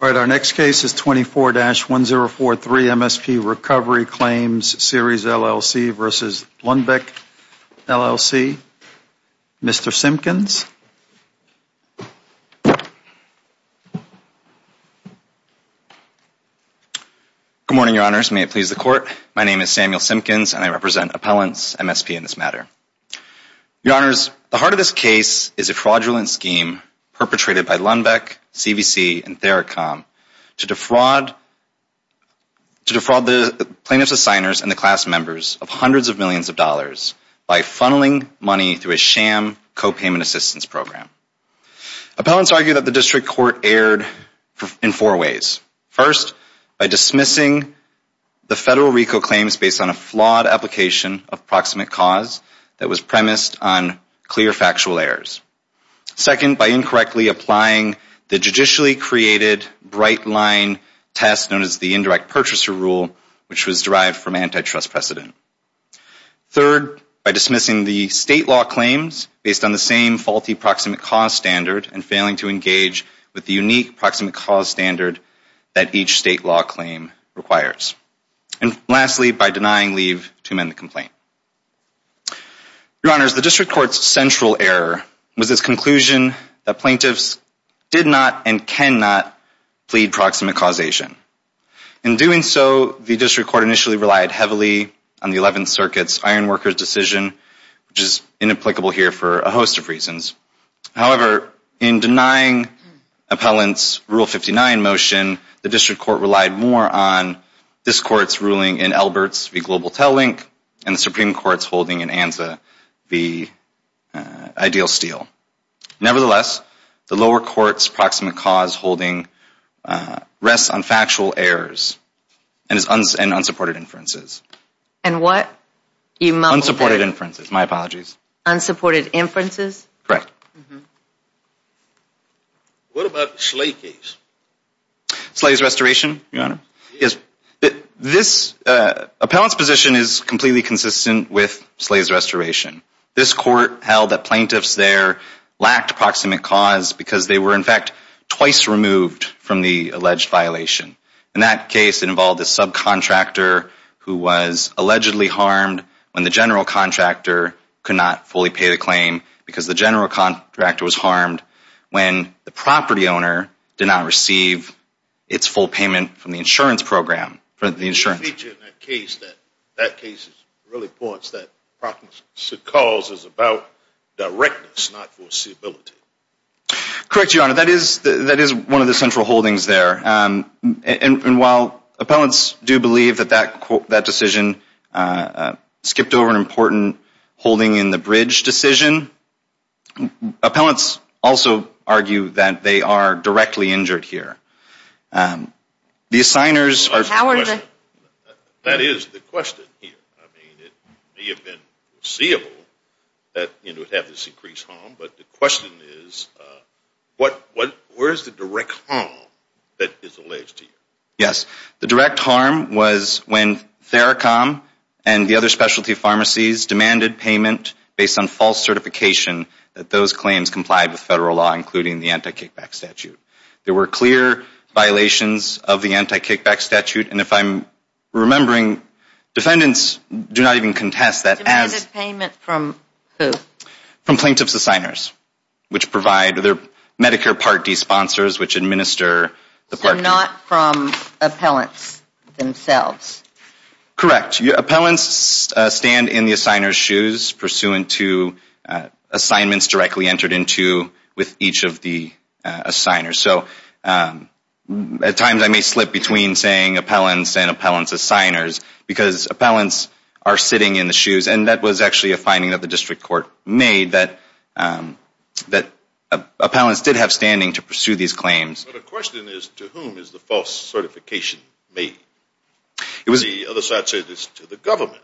All right, our next case is 24-1043 MSP Recovery Claims, Series LLC v. Lundbeck LLC. Mr. Simpkins. Good morning, Your Honors. May it please the Court. My name is Samuel Simpkins, and I represent Appellants MSP in this matter. Your Honors, the heart of this case is a fraudulent perpetrated by Lundbeck, CVC, and Theracom to defraud the plaintiffs' assigners and the class members of hundreds of millions of dollars by funneling money through a sham copayment assistance program. Appellants argue that the District Court erred in four ways. First, by dismissing the federal RICO claims based on a flawed application of proximate cause that was on clear factual errors. Second, by incorrectly applying the judicially created bright line test known as the indirect purchaser rule, which was derived from antitrust precedent. Third, by dismissing the state law claims based on the same faulty proximate cause standard and failing to engage with the unique proximate cause standard that each state law claim requires. And the District Court's central error was its conclusion that plaintiffs did not and cannot plead proximate causation. In doing so, the District Court initially relied heavily on the 11th Circuit's iron worker's decision, which is inapplicable here for a host of reasons. However, in denying Appellants Rule 59 motion, the District Court relied more on this Court's in Albert's v. Global Tel Link and the Supreme Court's holding in Anza v. Ideal Steel. Nevertheless, the lower court's proximate cause holding rests on factual errors and unsupported inferences. And what? Unsupported inferences, my apologies. Unsupported inferences? Correct. Mm-hmm. What about the Slay case? Slay's restoration, your honor? Yes. This, uh, appellant's position is completely consistent with Slay's restoration. This court held that plaintiffs there lacked proximate cause because they were, in fact, twice removed from the alleged violation. In that case, it involved a subcontractor who was allegedly harmed when the general contractor could not fully pay the claim because the general contractor was harmed when the property owner did not receive its full payment from the insurance program, from the insurance. In that case, that case really points that proximate cause is about directness, not foreseeability. Correct, your honor. That is, that is one of the central holdings there. And while appellants do believe that that decision skipped over an important holding in the bridge decision, appellants also argue that they are directly injured here. The assigners are... That is the question here. I mean, it may have been foreseeable that it would have this increased harm, but the question is, uh, what, what, where's the direct harm that is alleged here? Yes, the direct harm was when Theracombe and the other specialty pharmacies demanded payment based on false certification that those claims complied with federal law, including the anti-kickback statute. There were clear violations of the anti-kickback statute, and if I'm remembering, defendants do not contest that. Demanded payment from who? From plaintiff's assigners, which provide their Medicare Part D sponsors, which administer the Part D. So not from appellants themselves? Correct. Appellants stand in the assigner's shoes pursuant to assignments directly entered into with each of the, uh, assigners. So, um, at times I may slip between saying appellants as signers because appellants are sitting in the shoes, and that was actually a finding that the district court made that, um, that appellants did have standing to pursue these claims. But the question is, to whom is the false certification made? It was... The other side said it's to the government.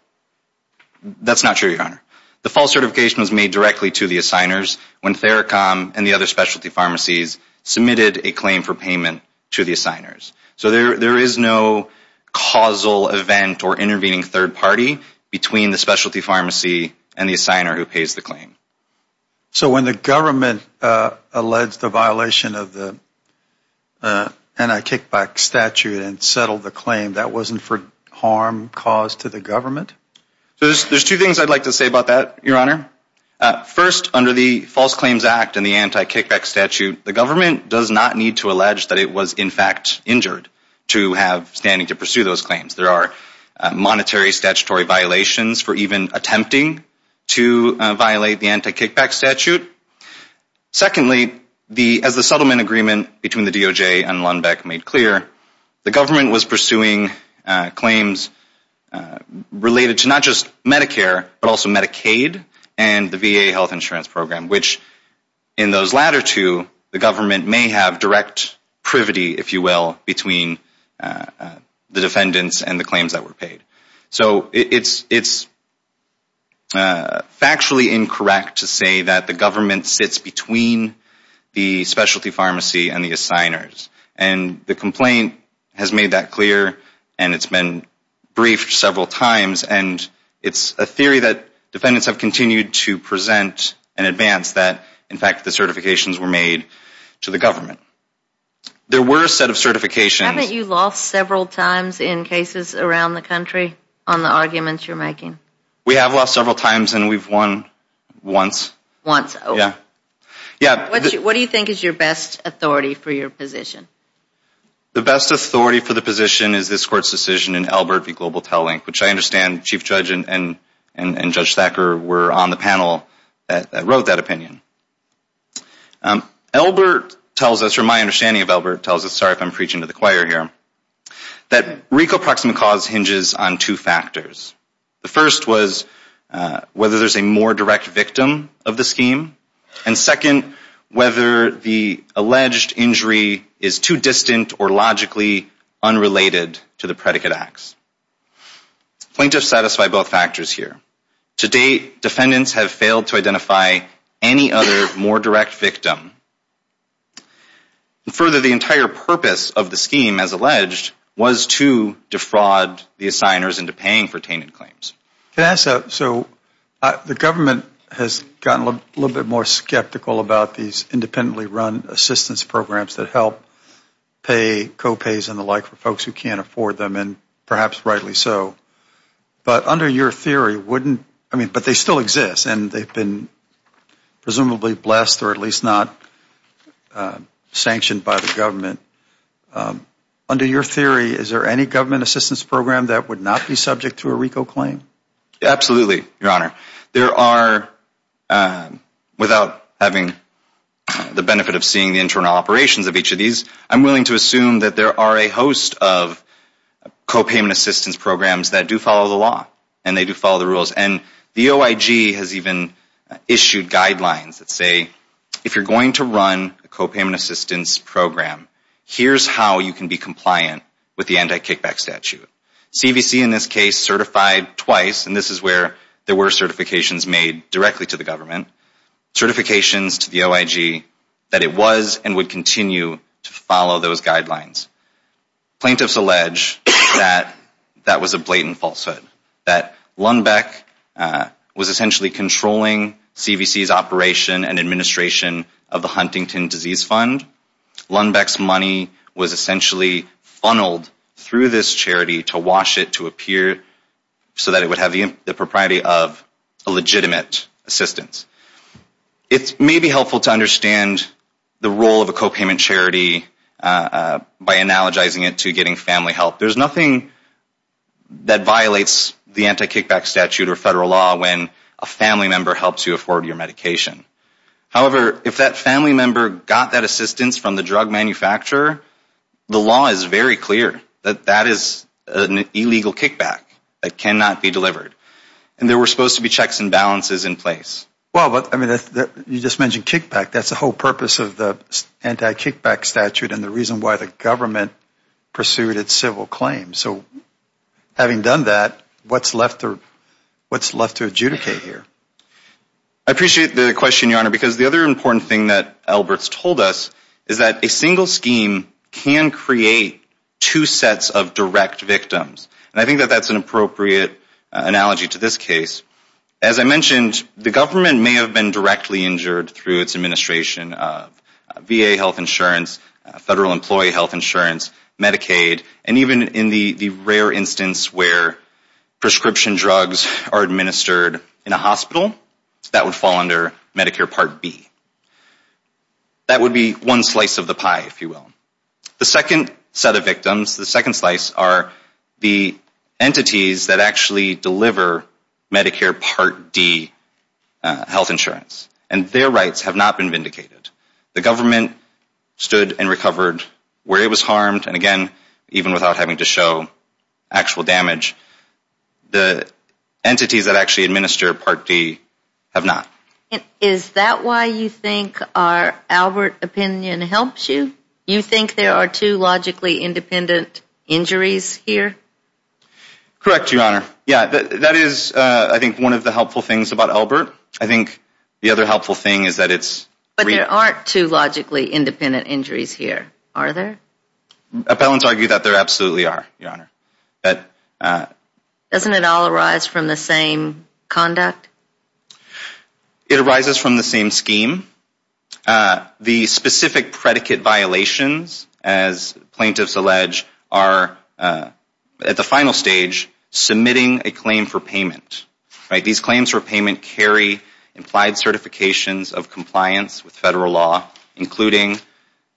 That's not true, your honor. The false certification was made directly to the assigners when Theracombe and the other specialty pharmacies submitted a claim for payment to the assigners. So there, there is no causal event or intervening third party between the specialty pharmacy and the assigner who pays the claim. So when the government, uh, alleged the violation of the, uh, anti-kickback statute and settled the claim, that wasn't for harm caused to the government? So there's, there's two things I'd like to say about that, your honor. Uh, first, under the False Claims Act and the anti-kickback statute, the government does not need to allege that it was in fact injured to have standing to pursue those claims. There are, uh, monetary statutory violations for even attempting to, uh, violate the anti-kickback statute. Secondly, the, as the settlement agreement between the DOJ and Lundbeck made clear, the government was pursuing, uh, claims, uh, related to not just Medicare, but also Medicaid and the VA health insurance program, which in those latter two, the government may have direct privity, if you will, between, uh, uh, the defendants and the claims that were paid. So it's, it's, uh, factually incorrect to say that the government sits between the specialty pharmacy and the assigners. And the complaint has made that clear and it's been briefed several times. And it's a theory that defendants have continued to present an advance that, in fact, the certifications were made to the government. There were a set of certifications. Haven't you lost several times in cases around the country on the arguments you're making? We have lost several times and we've won once. Once. Yeah. Yeah. What do you think is your best authority for your position? The best authority for the position is this court's decision in Albert v. Global Telelink, which I understand Chief Judge and Judge Thacker were on the panel that wrote that opinion. Um, Albert tells us, or my understanding of Albert tells us, sorry if I'm preaching to the choir here, that RICO proximate cause hinges on two factors. The first was, uh, whether there's a more direct victim of the scheme. And second, whether the alleged injury is too distant or logically unrelated to the predicate acts. Plaintiffs satisfy both factors here. To date, defendants have failed to identify any other more direct victim. And further, the entire purpose of the scheme, as alleged, was to defraud the assigners into paying for tainted claims. Can I ask, so the government has gotten a little bit more skeptical about these independently run assistance programs that help pay co-pays and the like for folks who can't afford them, and perhaps rightly so. But under your theory, wouldn't, I mean, but they still exist, and they've been presumably blessed or at least not sanctioned by the government. Um, under your theory, is there any government assistance program that would not be subject to a RICO claim? Absolutely, Your Honor. There are, um, without having the benefit of seeing the internal operations of each of these, I'm willing to assume that there are a host of co-payment assistance programs that do follow the law, and they do follow the rules. And the OIG has even issued guidelines that say, if you're going to run a co-payment assistance program, here's how you can be compliant with the anti-kickback statute. CVC in this case certified twice, and this is where there were certifications made directly to the government, certifications to the OIG that it was and would continue to follow those guidelines. Plaintiffs allege that that was a blatant falsehood, that Lundbeck was essentially controlling CVC's operation and administration of the Huntington Disease Fund. Lundbeck's money was essentially funneled through this charity to wash it, to appear, so that it would have the propriety of a legitimate assistance. It may be helpful to the role of a co-payment charity by analogizing it to getting family help. There's nothing that violates the anti-kickback statute or federal law when a family member helps you afford your medication. However, if that family member got that assistance from the drug manufacturer, the law is very clear that that is an illegal kickback. It cannot be delivered. And there were supposed to be checks and balances in place. Well, but, I mean, you just mentioned kickback. That's the whole purpose of the anti-kickback statute and the reason why the government pursued its civil claims. So, having done that, what's left to adjudicate here? I appreciate the question, Your Honor, because the other important thing that Albert's told us is that a single scheme can create two sets of direct victims. And I think that that's an appropriate analogy to this case. As I mentioned, the government may have been directly injured through its administration of VA health insurance, federal employee health insurance, Medicaid, and even in the rare instance where prescription drugs are administered in a hospital, that would fall under Medicare Part B. That would be one slice of the pie, if you will. The second set of victims, the second slice, are the entities that actually deliver Medicare Part D health insurance. And their rights have not been vindicated. The government stood and recovered where it was harmed, and again, even without having to show actual damage, the entities that actually administer Part D have not. Is that why you think our Albert opinion helps you? You think there are two logically independent injuries here? Correct, Your Honor. Yeah, that is, I think, one of the other helpful things is that it's... But there aren't two logically independent injuries here, are there? Appellants argue that there absolutely are, Your Honor. Doesn't it all arise from the same conduct? It arises from the same scheme. The specific predicate violations, as plaintiffs allege, are at the final stage submitting a claim for payment. These claims for payment carry implied certifications of compliance with federal law, including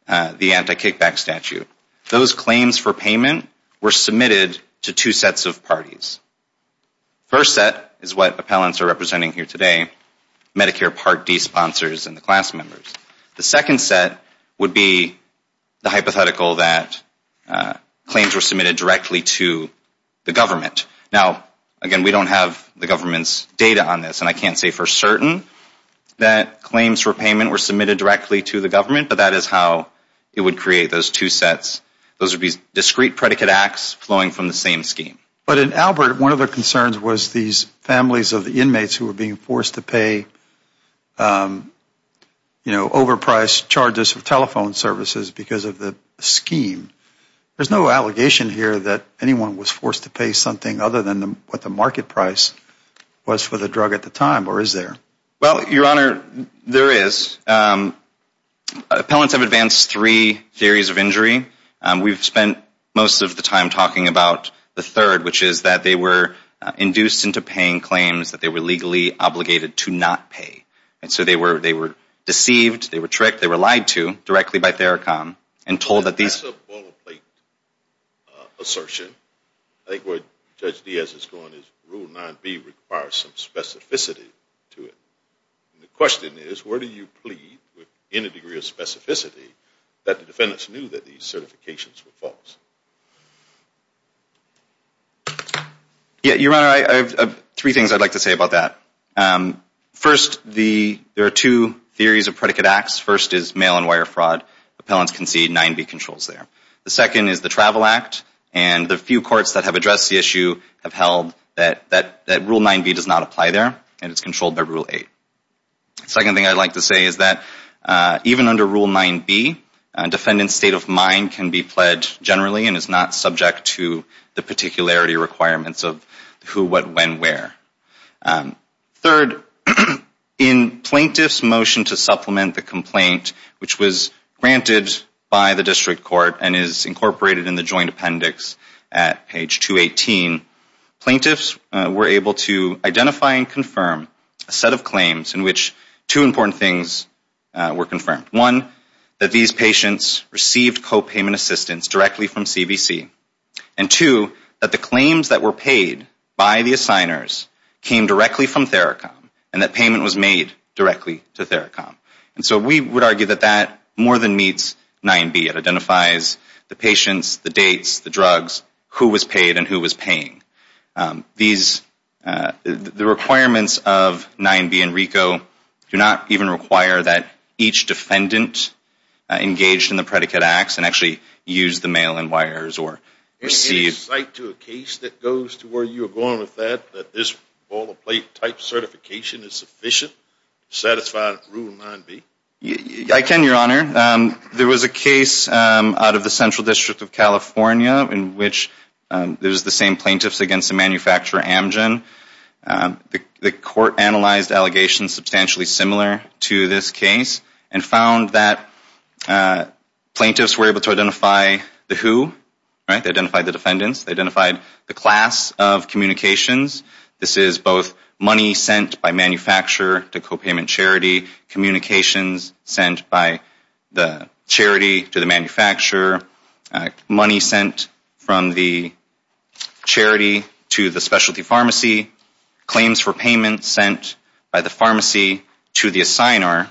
the anti-kickback statute. Those claims for payment were submitted to two sets of parties. First set is what appellants are representing here today, Medicare Part D sponsors and the class members. The second set would be the hypothetical that claims were submitted directly to the government. Now, again, we don't have the government's data on this, and I can't say for certain that claims for payment were submitted directly to the government, but that is how it would create those two sets. Those would be discrete predicate acts flowing from the same scheme. But in Albert, one of the concerns was these families of the inmates who were being forced to pay, you know, overpriced charges for telephone services because of the scheme. There's no allegation here that anyone was forced to pay something other than what the market price was for the drug at the time, or is there? Well, Your Honor, there is. Appellants have advanced three theories of injury. We've spent most of the time talking about the third, which is that they were induced into paying claims that they were legally obligated to not pay. And so they were deceived, they were tricked, they were lied to directly by Theracom and told that these... That's a boilerplate assertion. I think what Judge Diaz is going is Rule 9B requires some specificity to it. The question is, where do you plead with any degree of specificity that the defendants knew that these certifications were false? Yeah, Your Honor, I have three things I'd like to say about that. First, there are two theories of predicate acts. First is mail and wire fraud. Appellants can see 9B controls there. The second is the Travel Act, and the few courts that have addressed the issue have held that Rule 9B does not apply there, and it's controlled by Rule 8. Second thing I'd like to say is that even under Rule 9B, a defendant's state of mind can be pledged generally and is not subject to the particularity of who, what, when, where. Third, in plaintiff's motion to supplement the complaint, which was granted by the district court and is incorporated in the joint appendix at page 218, plaintiffs were able to identify and confirm a set of claims in which two important things were confirmed. One, that these patients received copayment assistance directly from CVC, and two, that claims that were paid by the assigners came directly from Theracom, and that payment was made directly to Theracom. And so we would argue that that more than meets 9B. It identifies the patients, the dates, the drugs, who was paid and who was paying. The requirements of 9B and RICO do not even require that each defendant engaged in the predicate acts and actually use the mail-in wires or receive. Any insight to a case that goes to where you're going with that, that this boilerplate type certification is sufficient to satisfy Rule 9B? I can, your honor. There was a case out of the Central District of California in which there's the same plaintiffs against the manufacturer Amgen. The court analyzed allegations substantially similar to this case and found that plaintiffs were able to identify the who, right? They identified the defendants. They identified the class of communications. This is both money sent by manufacturer to copayment charity, communications sent by the charity to the manufacturer, money sent from the charity to specialty pharmacy, claims for payment sent by the pharmacy to the assigner,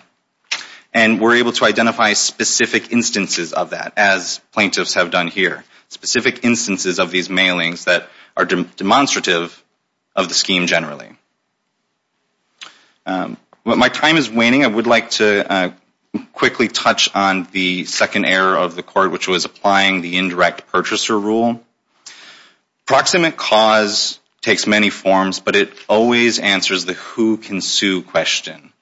and were able to identify specific instances of that as plaintiffs have done here. Specific instances of these mailings that are demonstrative of the scheme generally. While my time is waning, I would like to quickly touch on the second error of the court, which was applying the indirect purchaser rule. Proximate cause takes many forms, but it always answers the who can sue question.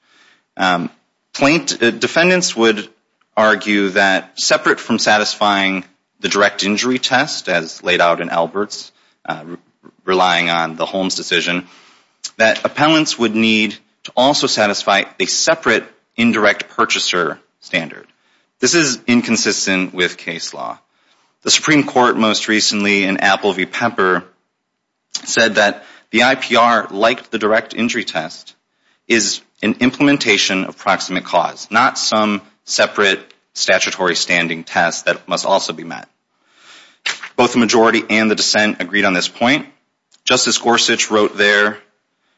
Defendants would argue that separate from satisfying the direct injury test as laid out in Albert's, relying on the Holmes decision, that appellants would need to also satisfy a separate indirect purchaser standard. This is inconsistent with case law. The Supreme Court most recently in Apple v. Pepper said that the IPR, like the direct injury test, is an implementation of proximate cause, not some separate statutory standing test that must also be met. Both the majority and the dissent agreed on this point. Justice Gorsuch wrote there,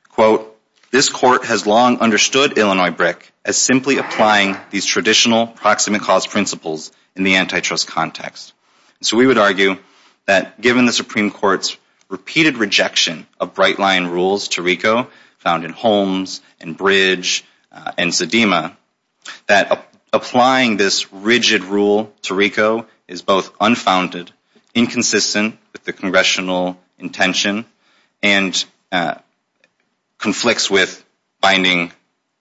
quote, this court has long understood Illinois BRIC as simply applying these traditional proximate cause principles in the antitrust context. So we would argue that given the Supreme Court's repeated rejection of bright line rules to RICO found in Holmes and Bridge and Zedema, that applying this rigid rule to RICO is both unfounded, inconsistent with the congressional intention, and conflicts with binding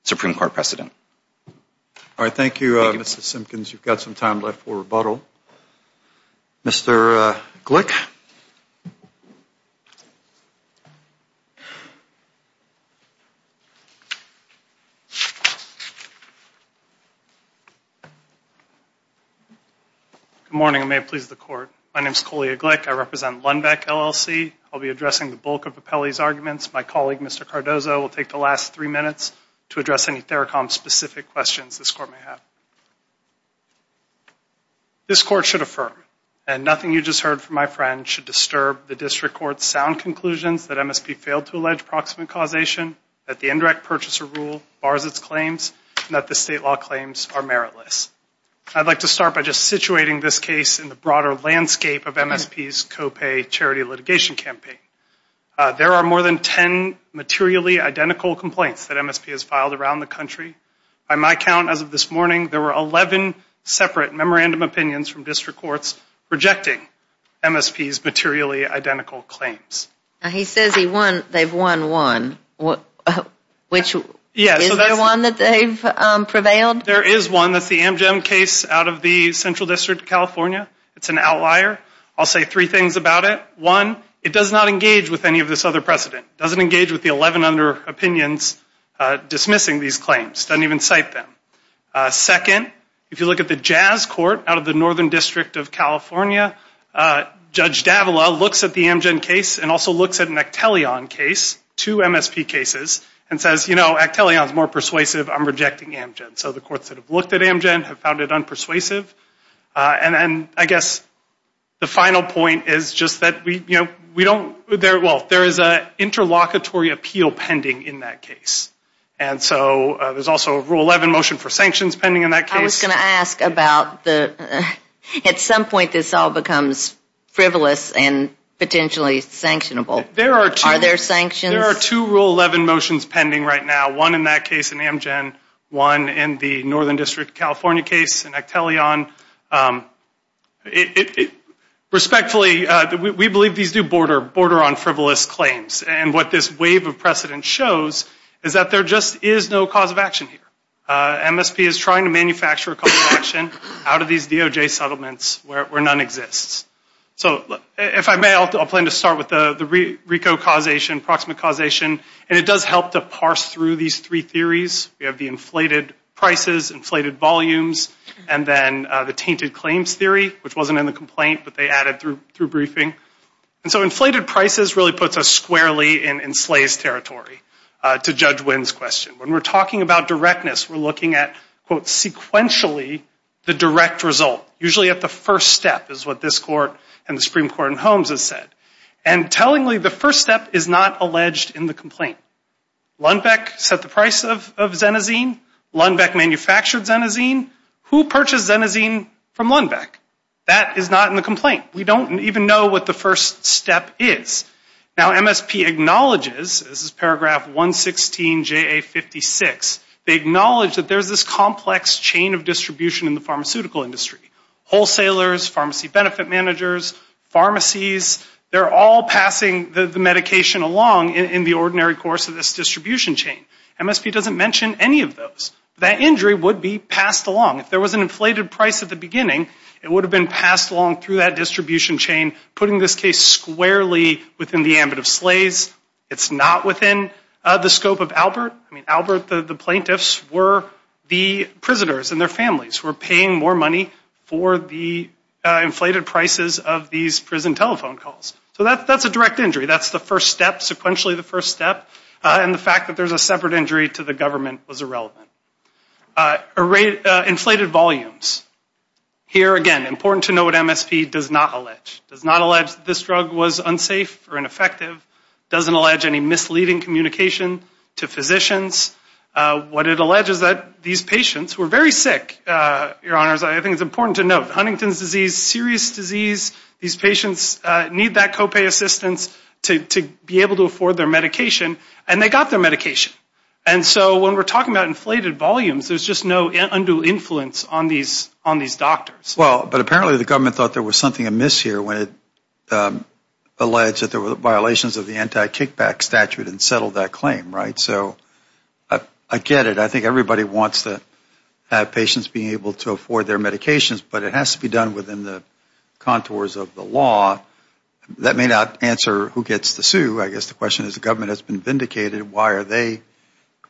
Supreme Court precedent. All right. Thank you, Mr. Simpkins. You've got some time left for rebuttal. Mr. Glick. Good morning. May it please the court. My name is Coley Glick. I represent Lundbeck LLC. I'll be addressing the bulk of Appelli's arguments. My colleague, Mr. Cardozo, will take the last three minutes to address any THERACOM-specific questions this court may have. This court should affirm, and nothing you just heard from my friend should disturb the district court's sound conclusions that MSP failed to allege proximate causation, that the indirect purchaser rule bars its claims, and that the state law claims are meritless. I'd like to start by just situating this case in the broader landscape of MSP's copay charity litigation campaign. There are more than 10 materially identical complaints that MSP has filed around the country. By my count, as of this morning, there were 11 separate memorandum opinions from district courts rejecting MSP's materially identical claims. He says they've won one. Is there one that they've prevailed? There is one. That's the Amgem case out of the Central District of California. It's an outlier. I'll say three things about it. One, it does not engage with any of this other precedent. It doesn't engage with the 11 other opinions dismissing these claims. It doesn't even cite them. Second, if you look at the Jazz Court out of the Northern District of California, Judge Davila looks at the Amgem case and also looks at an Actelion case, two MSP cases, and says, you know, Actelion is more persuasive. I'm rejecting Amgem. So the courts that have looked at Amgem have found it unpersuasive. And then, I guess, the final point is just that we, you know, we don't, well, there is an interlocutory appeal pending in that case. And so there's also a Rule 11 motion for sanctions pending in that case. I was going to ask about the, at some point, this all becomes frivolous and potentially sanctionable. There are two. Are there sanctions? There are two Rule 11 motions pending right now. One in that case in Amgem, one in the Northern District of California case, and Actelion. Respectfully, we believe these do border on frivolous claims. And what this wave of precedent shows is that there just is no cause of action here. MSP is trying to manufacture a cause of action out of these DOJ settlements where none exists. So if I may, I'll plan to start with the RICO causation, proximate causation, and it does help to parse through these three theories. We have the inflated prices, inflated volumes, and then the tainted claims theory, which wasn't in the complaint, but they added through briefing. And so inflated prices really puts us squarely in slaves' territory, to Judge Wynn's question. When we're talking about directness, we're looking at, quote, sequentially the direct result, usually at the first step, is what this Court and the Supreme Court in Holmes has said. And tellingly, the first step is not in the complaint. Lundbeck set the price of Xenazine. Lundbeck manufactured Xenazine. Who purchased Xenazine from Lundbeck? That is not in the complaint. We don't even know what the first step is. Now, MSP acknowledges, this is paragraph 116JA56, they acknowledge that there's this complex chain of distribution in the pharmaceutical industry. Wholesalers, pharmacy benefit managers, pharmacies, they're all passing the medication along in the ordinary course of this distribution chain. MSP doesn't mention any of those. That injury would be passed along. If there was an inflated price at the beginning, it would have been passed along through that distribution chain, putting this case squarely within the ambit of slaves. It's not within the scope of Albert. I mean, Albert, the plaintiffs, were the prisoners and their families who were paying more money for the inflated prices of these prison telephone calls. So that's a direct injury. That's the first step, sequentially the first step. And the fact that there's a separate injury to the government was irrelevant. Inflated volumes. Here again, important to know what MSP does not allege. Does not allege that this drug was unsafe or ineffective. Doesn't allege any misleading communication to physicians. What it alleges is that these patients were very sick, your honors. I think it's important to note. Huntington's disease, serious disease, these patients need that copay assistance to be able to afford their medication, and they got their medication. And so when we're talking about inflated volumes, there's just no undue influence on these doctors. Well, but apparently the government thought there was something amiss here when it alleged that there were violations of the anti-kickback statute and so I get it. I think everybody wants to have patients being able to afford their medications, but it has to be done within the contours of the law. That may not answer who gets to sue. I guess the question is the government has been vindicated. Why are they,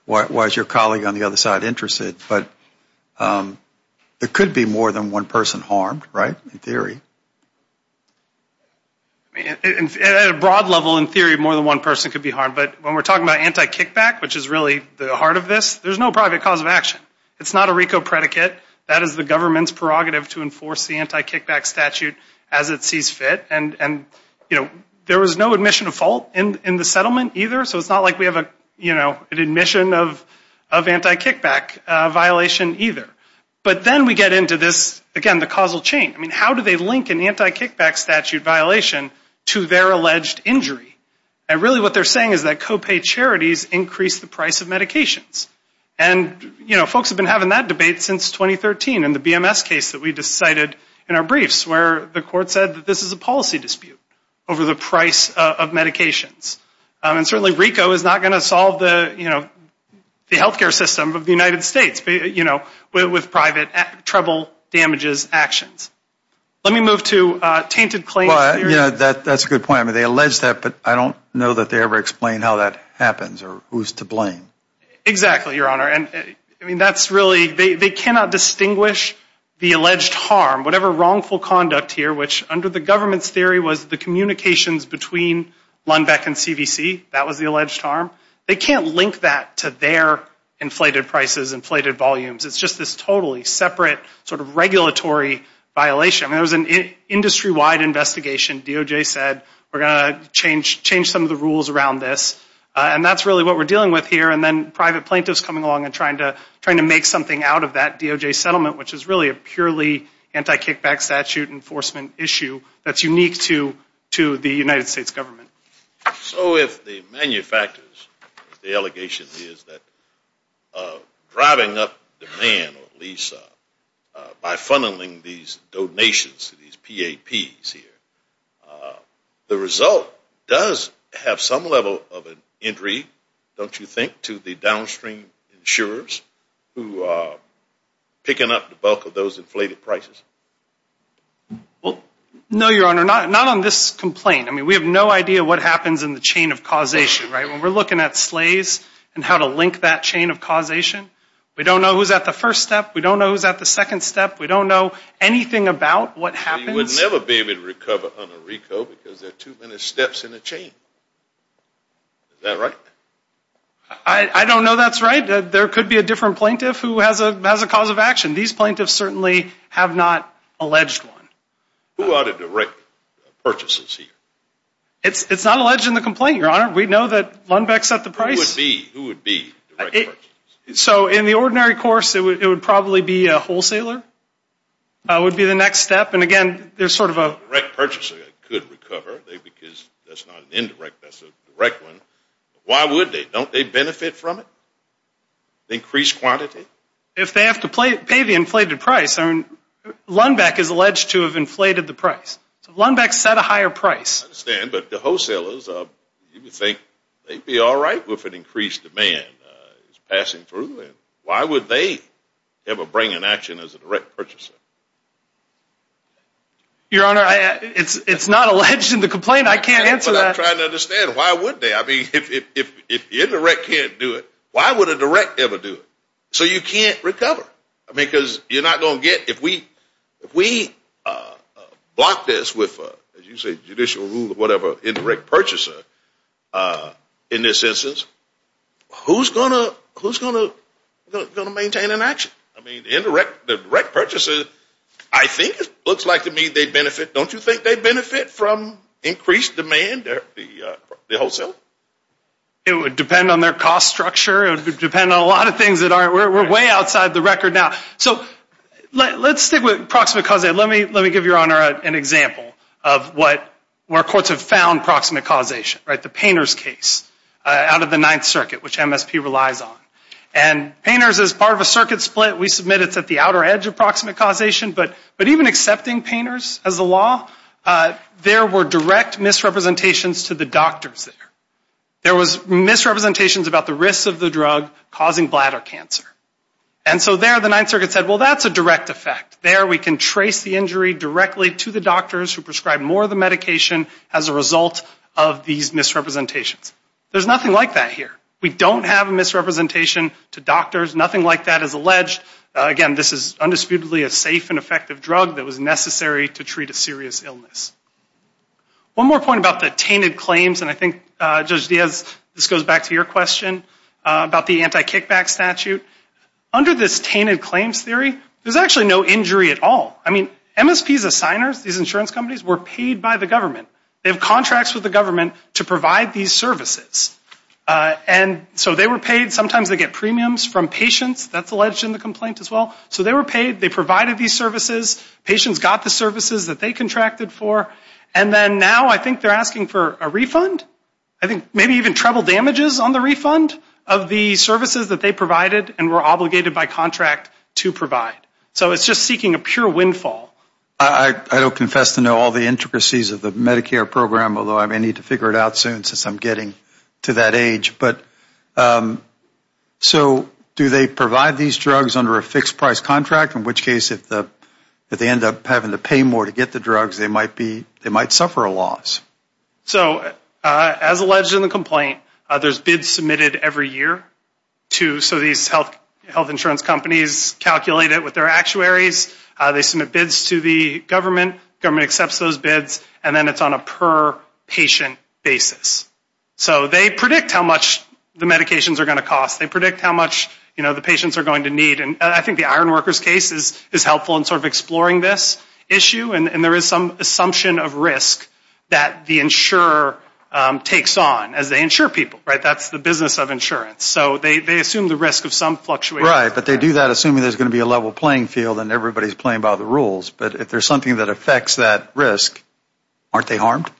why is your colleague on the other side interested? But there could be more than one person harmed, right? In theory. At a broad level, in theory, more than one person could be harmed. But when we're talking about anti-kickback, which is really the heart of this, there's no private cause of action. It's not a RICO predicate. That is the government's prerogative to enforce the anti-kickback statute as it sees fit. And, you know, there was no admission of fault in the settlement either, so it's not like we have an admission of anti-kickback violation either. But then we get into this, again, the causal chain. I mean, how do they link an anti-kickback statute violation to their alleged injury? And really what they're saying is that copay charities increase the price of medications. And, you know, folks have been having that debate since 2013 in the BMS case that we just cited in our briefs where the court said that this is a policy dispute over the price of medications. And certainly RICO is not going to solve the, you know, the healthcare system of the damages actions. Let me move to tainted claims. Well, yeah, that's a good point. I mean, they allege that, but I don't know that they ever explain how that happens or who's to blame. Exactly, Your Honor. And, I mean, that's really, they cannot distinguish the alleged harm, whatever wrongful conduct here, which under the government's theory was the communications between Lundbeck and CVC. That was the alleged harm. They can't link that to their inflated prices, inflated volumes. It's just this totally separate sort of regulatory violation. I mean, it was an industry-wide investigation. DOJ said we're going to change some of the rules around this. And that's really what we're dealing with here. And then private plaintiffs coming along and trying to make something out of that DOJ settlement, which is really a purely anti-kickback statute enforcement issue that's unique to the United States government. So if the manufacturers, the allegation is that driving up demand, or at least by funneling these donations, these PAPs here, the result does have some level of an injury, don't you think, to the downstream insurers who are picking up the bulk of those inflated prices? Well, no, Your Honor, not on this complaint. I mean, we have no idea what happens in the chain of causation, right? When we're looking at slays and how to link that chain of causation, we don't know who's at the first step. We don't know who's at the second step. We don't know anything about what happens. You would never be able to recover on a RICO because there are too many steps in the chain. Is that right? I don't know that's right. There could be a different plaintiff who has a cause of action. These plaintiffs certainly have not alleged one. Who are the direct purchases here? It's not alleged in the complaint, Your Honor. We know that Lundbeck set the price. Who would be direct purchases? So in the ordinary course, it would probably be a wholesaler would be the next step. And again, there's sort of a... A direct purchaser could recover because that's not an indirect, that's a direct one. Why would they? Don't they benefit from it? Increase quantity? If they have to pay the inflated price, Lundbeck is alleged to have inflated the price. So Lundbeck set a higher price. I understand, but the wholesalers, you would think they'd be all right with an increased demand passing through. Why would they ever bring an action as a direct purchaser? Your Honor, it's not alleged in the complaint. I can't answer that. I'm trying to understand. Why would they? I mean, if the indirect can't do it, why would a direct ever do it? So you can't recover. I mean, because you're not going to get... If we block this with, as you say, judicial rule or whatever, indirect purchaser, in this instance, who's going to maintain an action? I mean, the direct purchaser, I think it looks like to me they benefit. Don't you think they benefit from increased demand the wholesale? It would depend on their cost structure. It would depend on a lot of things that are... We're way outside the record now. So let's stick with proximate causation. Let me give Your Honor an example of where courts have found proximate causation, the Painter's case out of the Ninth Circuit, which MSP relies on. And Painter's is part of a circuit split. We submit it's at the outer edge of proximate causation. But even accepting Painter's as a law, there were direct misrepresentations to the doctors there. There was misrepresentations about the risks of the drug causing bladder cancer. And so there the Ninth Circuit said, well, that's a direct effect. There we can trace the injury directly to the doctors who prescribe more of the medication as a result of these misrepresentations. There's nothing like that here. We don't have a misrepresentation to doctors. Nothing like that is alleged. Again, this is undisputedly a safe and effective drug that was necessary to treat a serious illness. One more point about the tainted claims. And I think, Judge Diaz, this goes back to your question about the anti-kickback statute. Under this tainted claims theory, there's actually no injury at all. I mean, MSP's assigners, these insurance companies, were paid by the government. They have contracts with the government to provide these services. And so they were paid. Sometimes they get premiums from patients. That's alleged in the complaint as well. So they were paid. They provided these services. Patients got the services that they contracted for. And then now I think they're asking for a refund. I think maybe even treble damages on the refund of the services that they provided and were obligated by contract to provide. So it's just seeking a pure windfall. MR. DIAZ I don't confess to know all the intricacies of the Medicare program, although I may need to figure it out soon since I'm getting to that age. But so do they provide these drugs under a fixed price contract? In which case, if they end up having to pay more to get the drugs, they might be, they might suffer a loss. MR. GOLDSMITH So as alleged in the complaint, there's bids submitted every year. So these health insurance companies calculate it with their actuaries. They submit bids to the government. Government accepts those bids. And then it's on a per patient basis. So they predict how much the medications are going to cost. They predict how much, you know, the patients are going to need. And I think the case is helpful in sort of exploring this issue. And there is some assumption of risk that the insurer takes on as they insure people. Right? That's the business of insurance. So they assume the risk of some fluctuation. MR. DIAZ Right. But they do that assuming there's going to be a level playing field and everybody's playing by the rules. But if there's something that affects that risk, aren't they harmed? MR. GOLDSMITH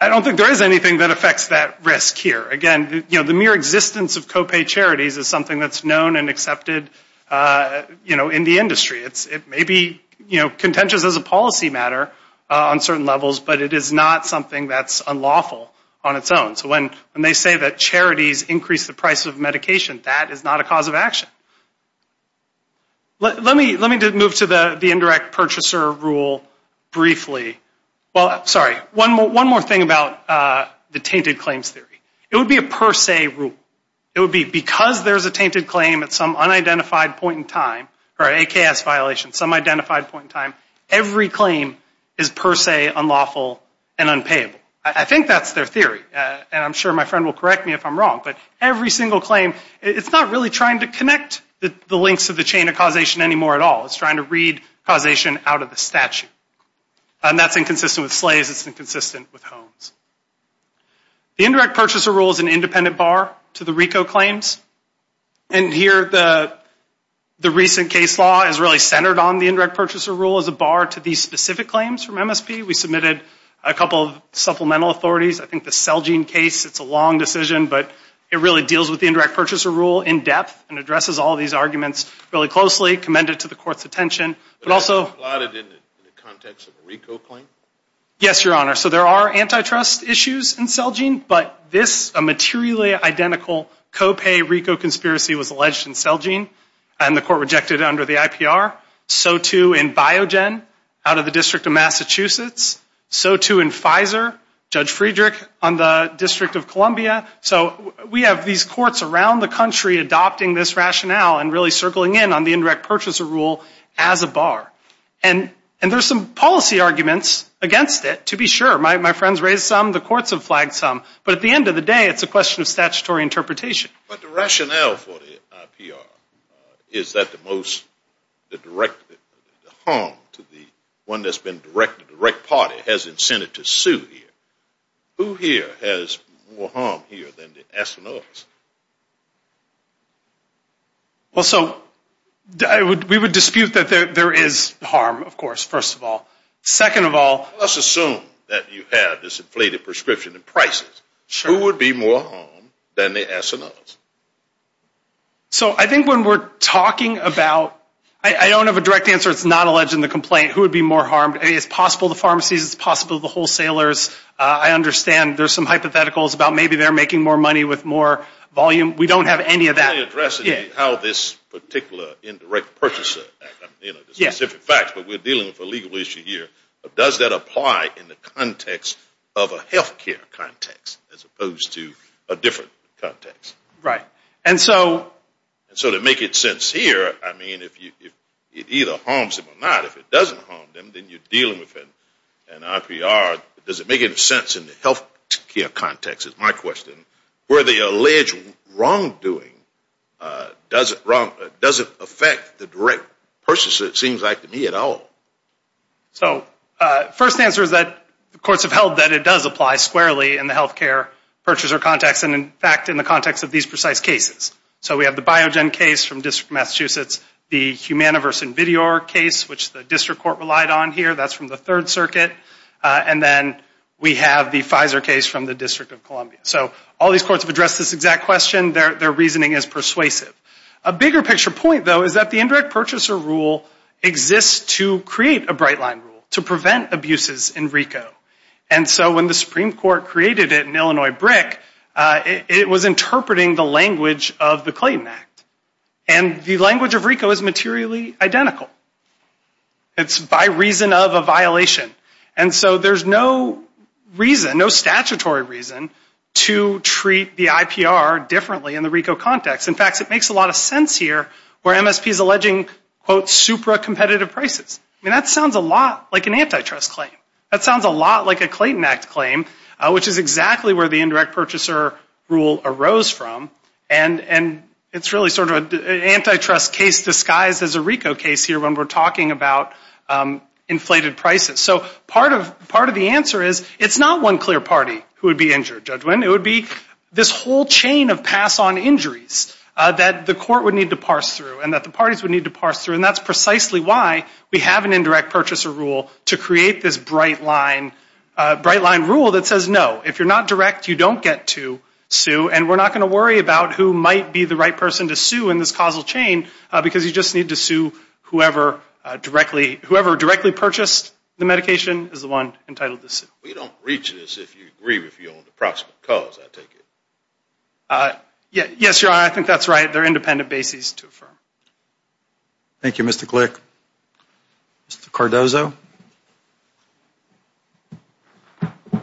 I don't think there is anything that affects that risk here. Again, you know, the mere existence of copay charities is known and accepted in the industry. It may be contentious as a policy matter on certain levels, but it is not something that's unlawful on its own. So when they say that charities increase the price of medication, that is not a cause of action. Let me move to the indirect purchaser rule briefly. Well, sorry, one more thing about the tainted claims theory. It would be a per se rule. It would be because there's a tainted claim at some unidentified point in time, or an AKS violation, some identified point in time, every claim is per se unlawful and unpayable. I think that's their theory. And I'm sure my friend will correct me if I'm wrong, but every single claim, it's not really trying to connect the links to the chain of causation anymore at all. It's trying to read causation out of the statute. And that's inconsistent with SLAES. It's inconsistent with HOMES. The indirect purchaser rule is an independent bar to the RICO claims. And here, the recent case law is really centered on the indirect purchaser rule as a bar to these specific claims from MSP. We submitted a couple of supplemental authorities. I think the Celgene case, it's a long decision, but it really deals with the indirect purchaser rule in depth and addresses all these arguments really closely, commend it to the court's attention, but also- But is it plotted in the context of a RICO claim? Yes, Your Honor. So there are antitrust issues in Celgene, but this materially identical co-pay RICO conspiracy was alleged in Celgene, and the court rejected it under the IPR. So too in Biogen out of the District of Massachusetts. So too in Pfizer, Judge Friedrich on the District of Columbia. So we have these courts around the country adopting this rationale and really circling in on the indirect purchaser rule as a bar. And there's some policy arguments against it to be sure. My friends raised some. The courts have flagged some. But at the end of the day, it's a question of statutory interpretation. But the rationale for the IPR, is that the most, the direct, the harm to the one that's been directed, the right party has incented to sue here. Who here has more harm here than the astronauts? Well, so we would dispute that there is harm, of course, first of all. Second of all- Let's assume that you have this inflated prescription and prices. Who would be more harmed than the astronauts? So I think when we're talking about- I don't have a direct answer. It's not alleged in the complaint. Who would be more harmed? It's possible the pharmacies, it's possible the wholesalers. I understand there's some hypotheticals about maybe they're making more money with more volume. We don't have any of that. You're addressing how this particular indirect purchaser, the specific facts, but we're dealing with a legal issue here. Does that apply in the context of a healthcare context as opposed to a different context? Right. And so- And so to make it sincere, I mean, it either harms them or not. If it doesn't harm them, you're dealing with an IPR. Does it make any sense in the healthcare context, is my question, where the alleged wrongdoing doesn't affect the direct purchaser, it seems like, to me at all? So first answer is that the courts have held that it does apply squarely in the healthcare purchaser context and, in fact, in the context of these precise cases. So we have the Biogen case from the District of Massachusetts, the Humana versus Invidior case, which the district court relied on here. That's from the Third Circuit. And then we have the Pfizer case from the District of Columbia. So all these courts have addressed this exact question. Their reasoning is persuasive. A bigger picture point, though, is that the indirect purchaser rule exists to create a bright line rule to prevent abuses in RICO. And so when the Supreme Court created it in Illinois brick, it was interpreting the language of the Clayton Act. And the language of RICO is materially identical. It's by reason of a violation. And so there's no reason, no statutory reason, to treat the IPR differently in the RICO context. In fact, it makes a lot of sense here where MSP is alleging, quote, supra-competitive prices. I mean, that sounds a lot like an antitrust claim. That sounds a lot like a Clayton Act claim, which is exactly where the indirect purchaser rule arose from. And it's really sort of an antitrust case disguised as a RICO case here when we're talking about inflated prices. So part of the answer is it's not one clear party who would be injured, Judge Winn. It would be this whole chain of pass-on injuries that the court would need to parse through and that the parties would need to parse through. And that's why we have an indirect purchaser rule to create this bright line rule that says, no, if you're not direct, you don't get to sue. And we're not going to worry about who might be the right person to sue in this causal chain because you just need to sue whoever directly purchased the medication is the one entitled to sue. We don't reach this if you agree with your own approximate cause, I take it. Yes, Your Honor, I think that's right. They're independent bases to affirm. Thank you, Mr. Glick. Mr. Cardozo. Good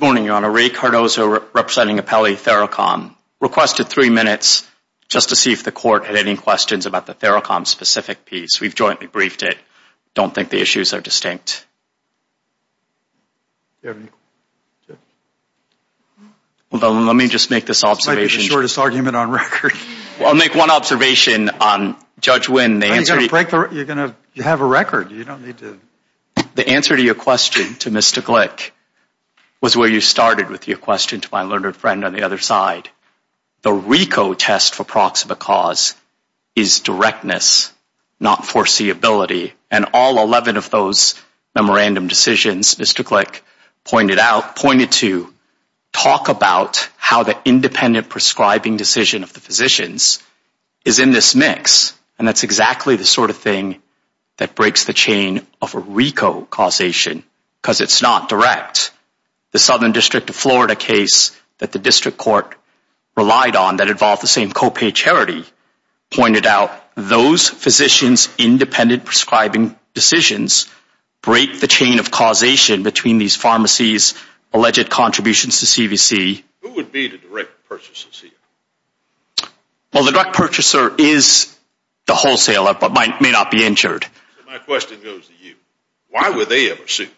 morning, Your Honor. Ray Cardozo representing Apelli Theracom. Requested three minutes just to see if the court had any questions about the Theracom specific piece. We've jointly briefed it. Don't think the issues are distinct. Well, let me just make this observation. This might be the shortest argument on record. I'll make one observation on Judge Wynn. You're going to have a record. You don't need to. The answer to your question to Mr. Glick was where you started with your question to my learned friend on the other side. The RICO test for approximate cause is directness, not foreseeability. And all 11 of those memorandum decisions, Mr. Glick pointed out, pointed to talk about how the independent prescribing decision of the physicians is in this mix. And that's exactly the sort of thing that breaks the chain of RICO causation because it's not direct. The Southern District of Florida case that the district court relied on that involved the same copay charity pointed out those physicians' independent prescribing decisions break the chain of causation between these pharmacies' alleged contributions to CVC. Who would be the direct purchaser? Well, the direct purchaser is the wholesaler but may not be injured. My question goes to you. Why would they ever sue?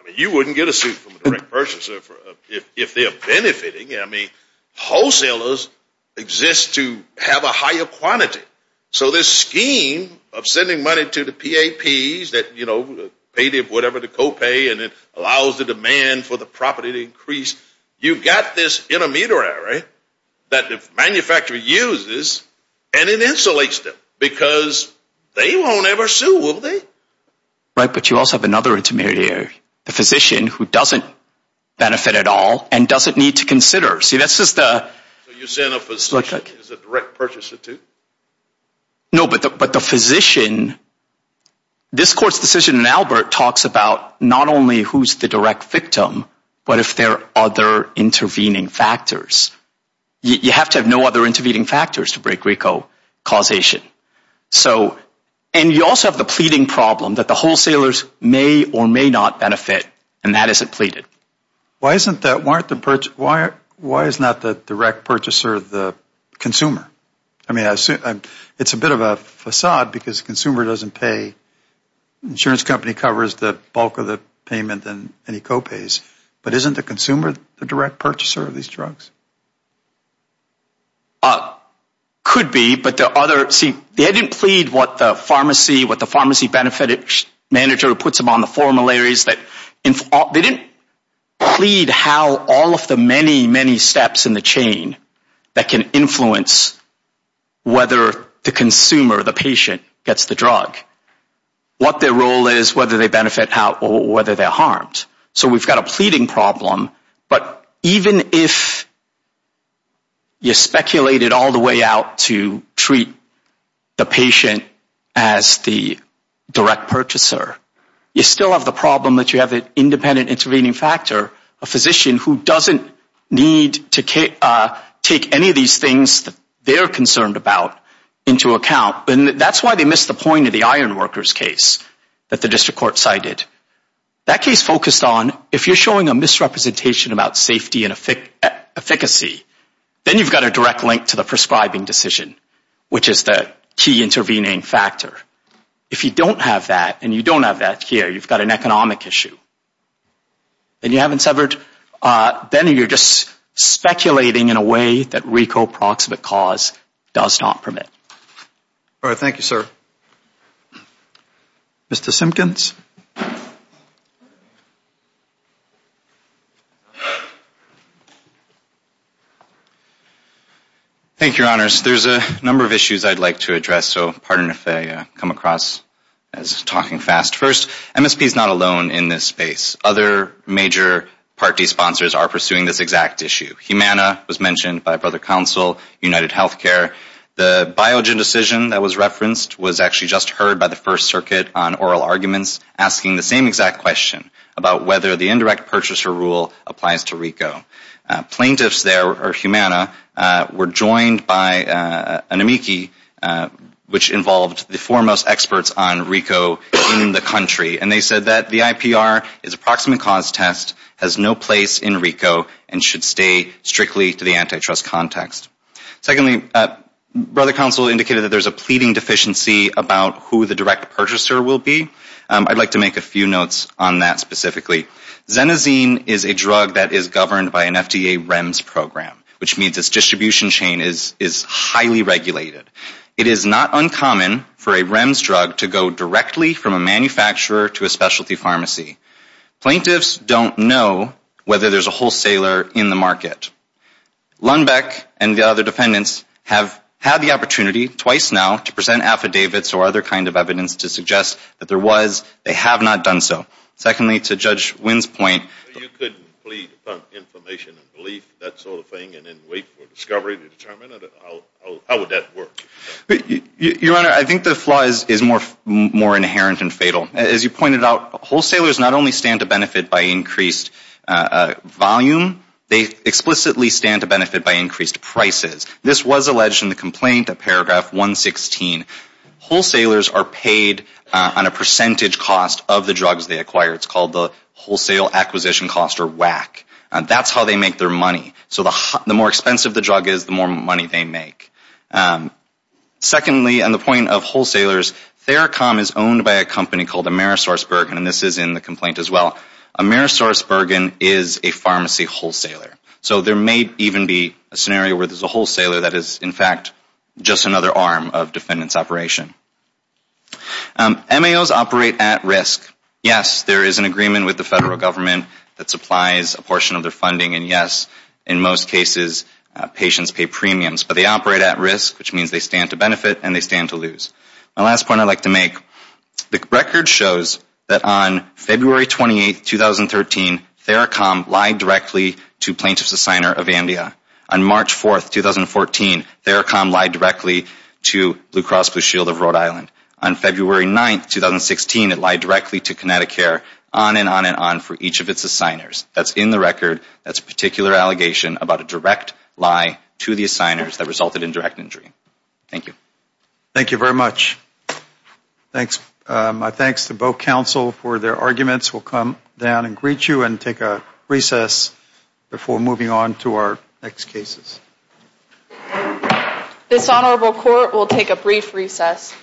I mean, you wouldn't get a suit from a direct have a higher quantity. So this scheme of sending money to the PAPs that, you know, paid whatever the copay and it allows the demand for the property to increase, you've got this intermediary that the manufacturer uses and it insulates them because they won't ever sue, will they? Right. But you also have another intermediary, the physician who doesn't benefit at all and doesn't need to consider. See, that's just the You're saying a physician is a direct purchaser too? No, but the physician, this court's decision in Albert talks about not only who's the direct victim but if there are other intervening factors. You have to have no other intervening factors to break RICO causation. So, and you also have the pleading problem that the wholesalers may or may not and that isn't pleaded. Why isn't that, why aren't the, why is not the direct purchaser the consumer? I mean, it's a bit of a facade because the consumer doesn't pay, insurance company covers the bulk of the payment and any copays, but isn't the consumer the direct purchaser of these drugs? Could be, but the other, see, they didn't plead what the pharmacy, what the pharmacy manager puts them on the formularies that, they didn't plead how all of the many, many steps in the chain that can influence whether the consumer, the patient gets the drug, what their role is, whether they benefit how or whether they're harmed. So we've got a pleading problem, but even if you speculated all the way out to treat the patient as the direct purchaser, you still have the problem that you have an independent intervening factor, a physician who doesn't need to take any of these things that they're concerned about into account. And that's why they missed the point of the iron workers case that the district court cited. That case focused on, if you're showing a misrepresentation about safety and efficacy, then you've got a direct link to the prescribing decision, which is the key intervening factor. If you don't have that, and you don't have that here, you've got an economic issue and you haven't severed, then you're just speculating in a way that RICO proximate cause does not permit. All right. Thank you, sir. Mr. Simpkins. Thank you, your honors. There's a number of issues I'd like to address, so pardon if I come across as talking fast. First, MSP is not alone in this space. Other major party sponsors are pursuing this exact issue. Humana was mentioned by a brother council, United Healthcare. The Biogen decision that was referenced was actually just heard by the First Circuit on oral arguments asking the same exact question about whether the indirect purchaser rule applies to RICO. Plaintiffs there, or Humana, were joined by an amici, which involved the foremost experts on RICO in the country. And they said that the IPR is a proximate cause test, has no place in RICO, and should stay strictly to the antitrust context. Secondly, brother council indicated that there's a pleading deficiency about who the direct purchaser will be. I'd like to make a few notes on that specifically. Xenazine is a drug that is governed by an FDA REMS program, which means its distribution chain is highly regulated. It is not uncommon for a REMS drug to go directly from a manufacturer to a specialty pharmacy. Plaintiffs don't know whether there's a wholesaler in the market. Lundbeck and the other defendants have had the opportunity, twice now, to present affidavits or other kinds of evidence to suggest that there was. They have not done so. Secondly, to Judge Wynn's point... You couldn't plead upon information and belief, that sort of thing, and then wait for discovery to determine it? How would that work? Your Honor, I think the flaw is more inherent and fatal. As you pointed out, wholesalers not only stand to benefit by increased volume, they explicitly stand to benefit by increased prices. This was alleged in the complaint at paragraph 116. Wholesalers are paid on a percentage cost of the drugs they acquire. It's called the wholesale acquisition cost or WAC. That's how they make their money. So the more expensive the drug is, the more money they make. Secondly, on the point of wholesalers, Theracom is owned by a company called Amerisourceburg, and this is in the complaint as well. Amerisourceburg is a pharmacy wholesaler. So there may even be a scenario where there's a wholesaler that is, in fact, just another arm of defendants' operation. MAOs operate at risk. Yes, there is an agreement with the federal government that supplies a portion of their funding, and yes, in most cases, patients pay premiums. But they operate at risk, which means they stand to benefit and they stand to lose. My last point I'd like to make, the record shows that on February 28, 2013, Theracom lied directly to plaintiff's assigner, Avandia. On March 4, 2014, Theracom lied directly to Blue Cross Blue Shield of Rhode Island. On February 9, 2016, it lied directly to Connecticut on and on and on for each of its assigners. That's in the record. That's a particular allegation about a direct lie to the assigners that resulted in direct injury. Thank you. Thank you very much. My thanks to both counsel for their arguments. We'll come down and greet you and take a recess before moving on to our next cases. This honorable court will take a brief recess.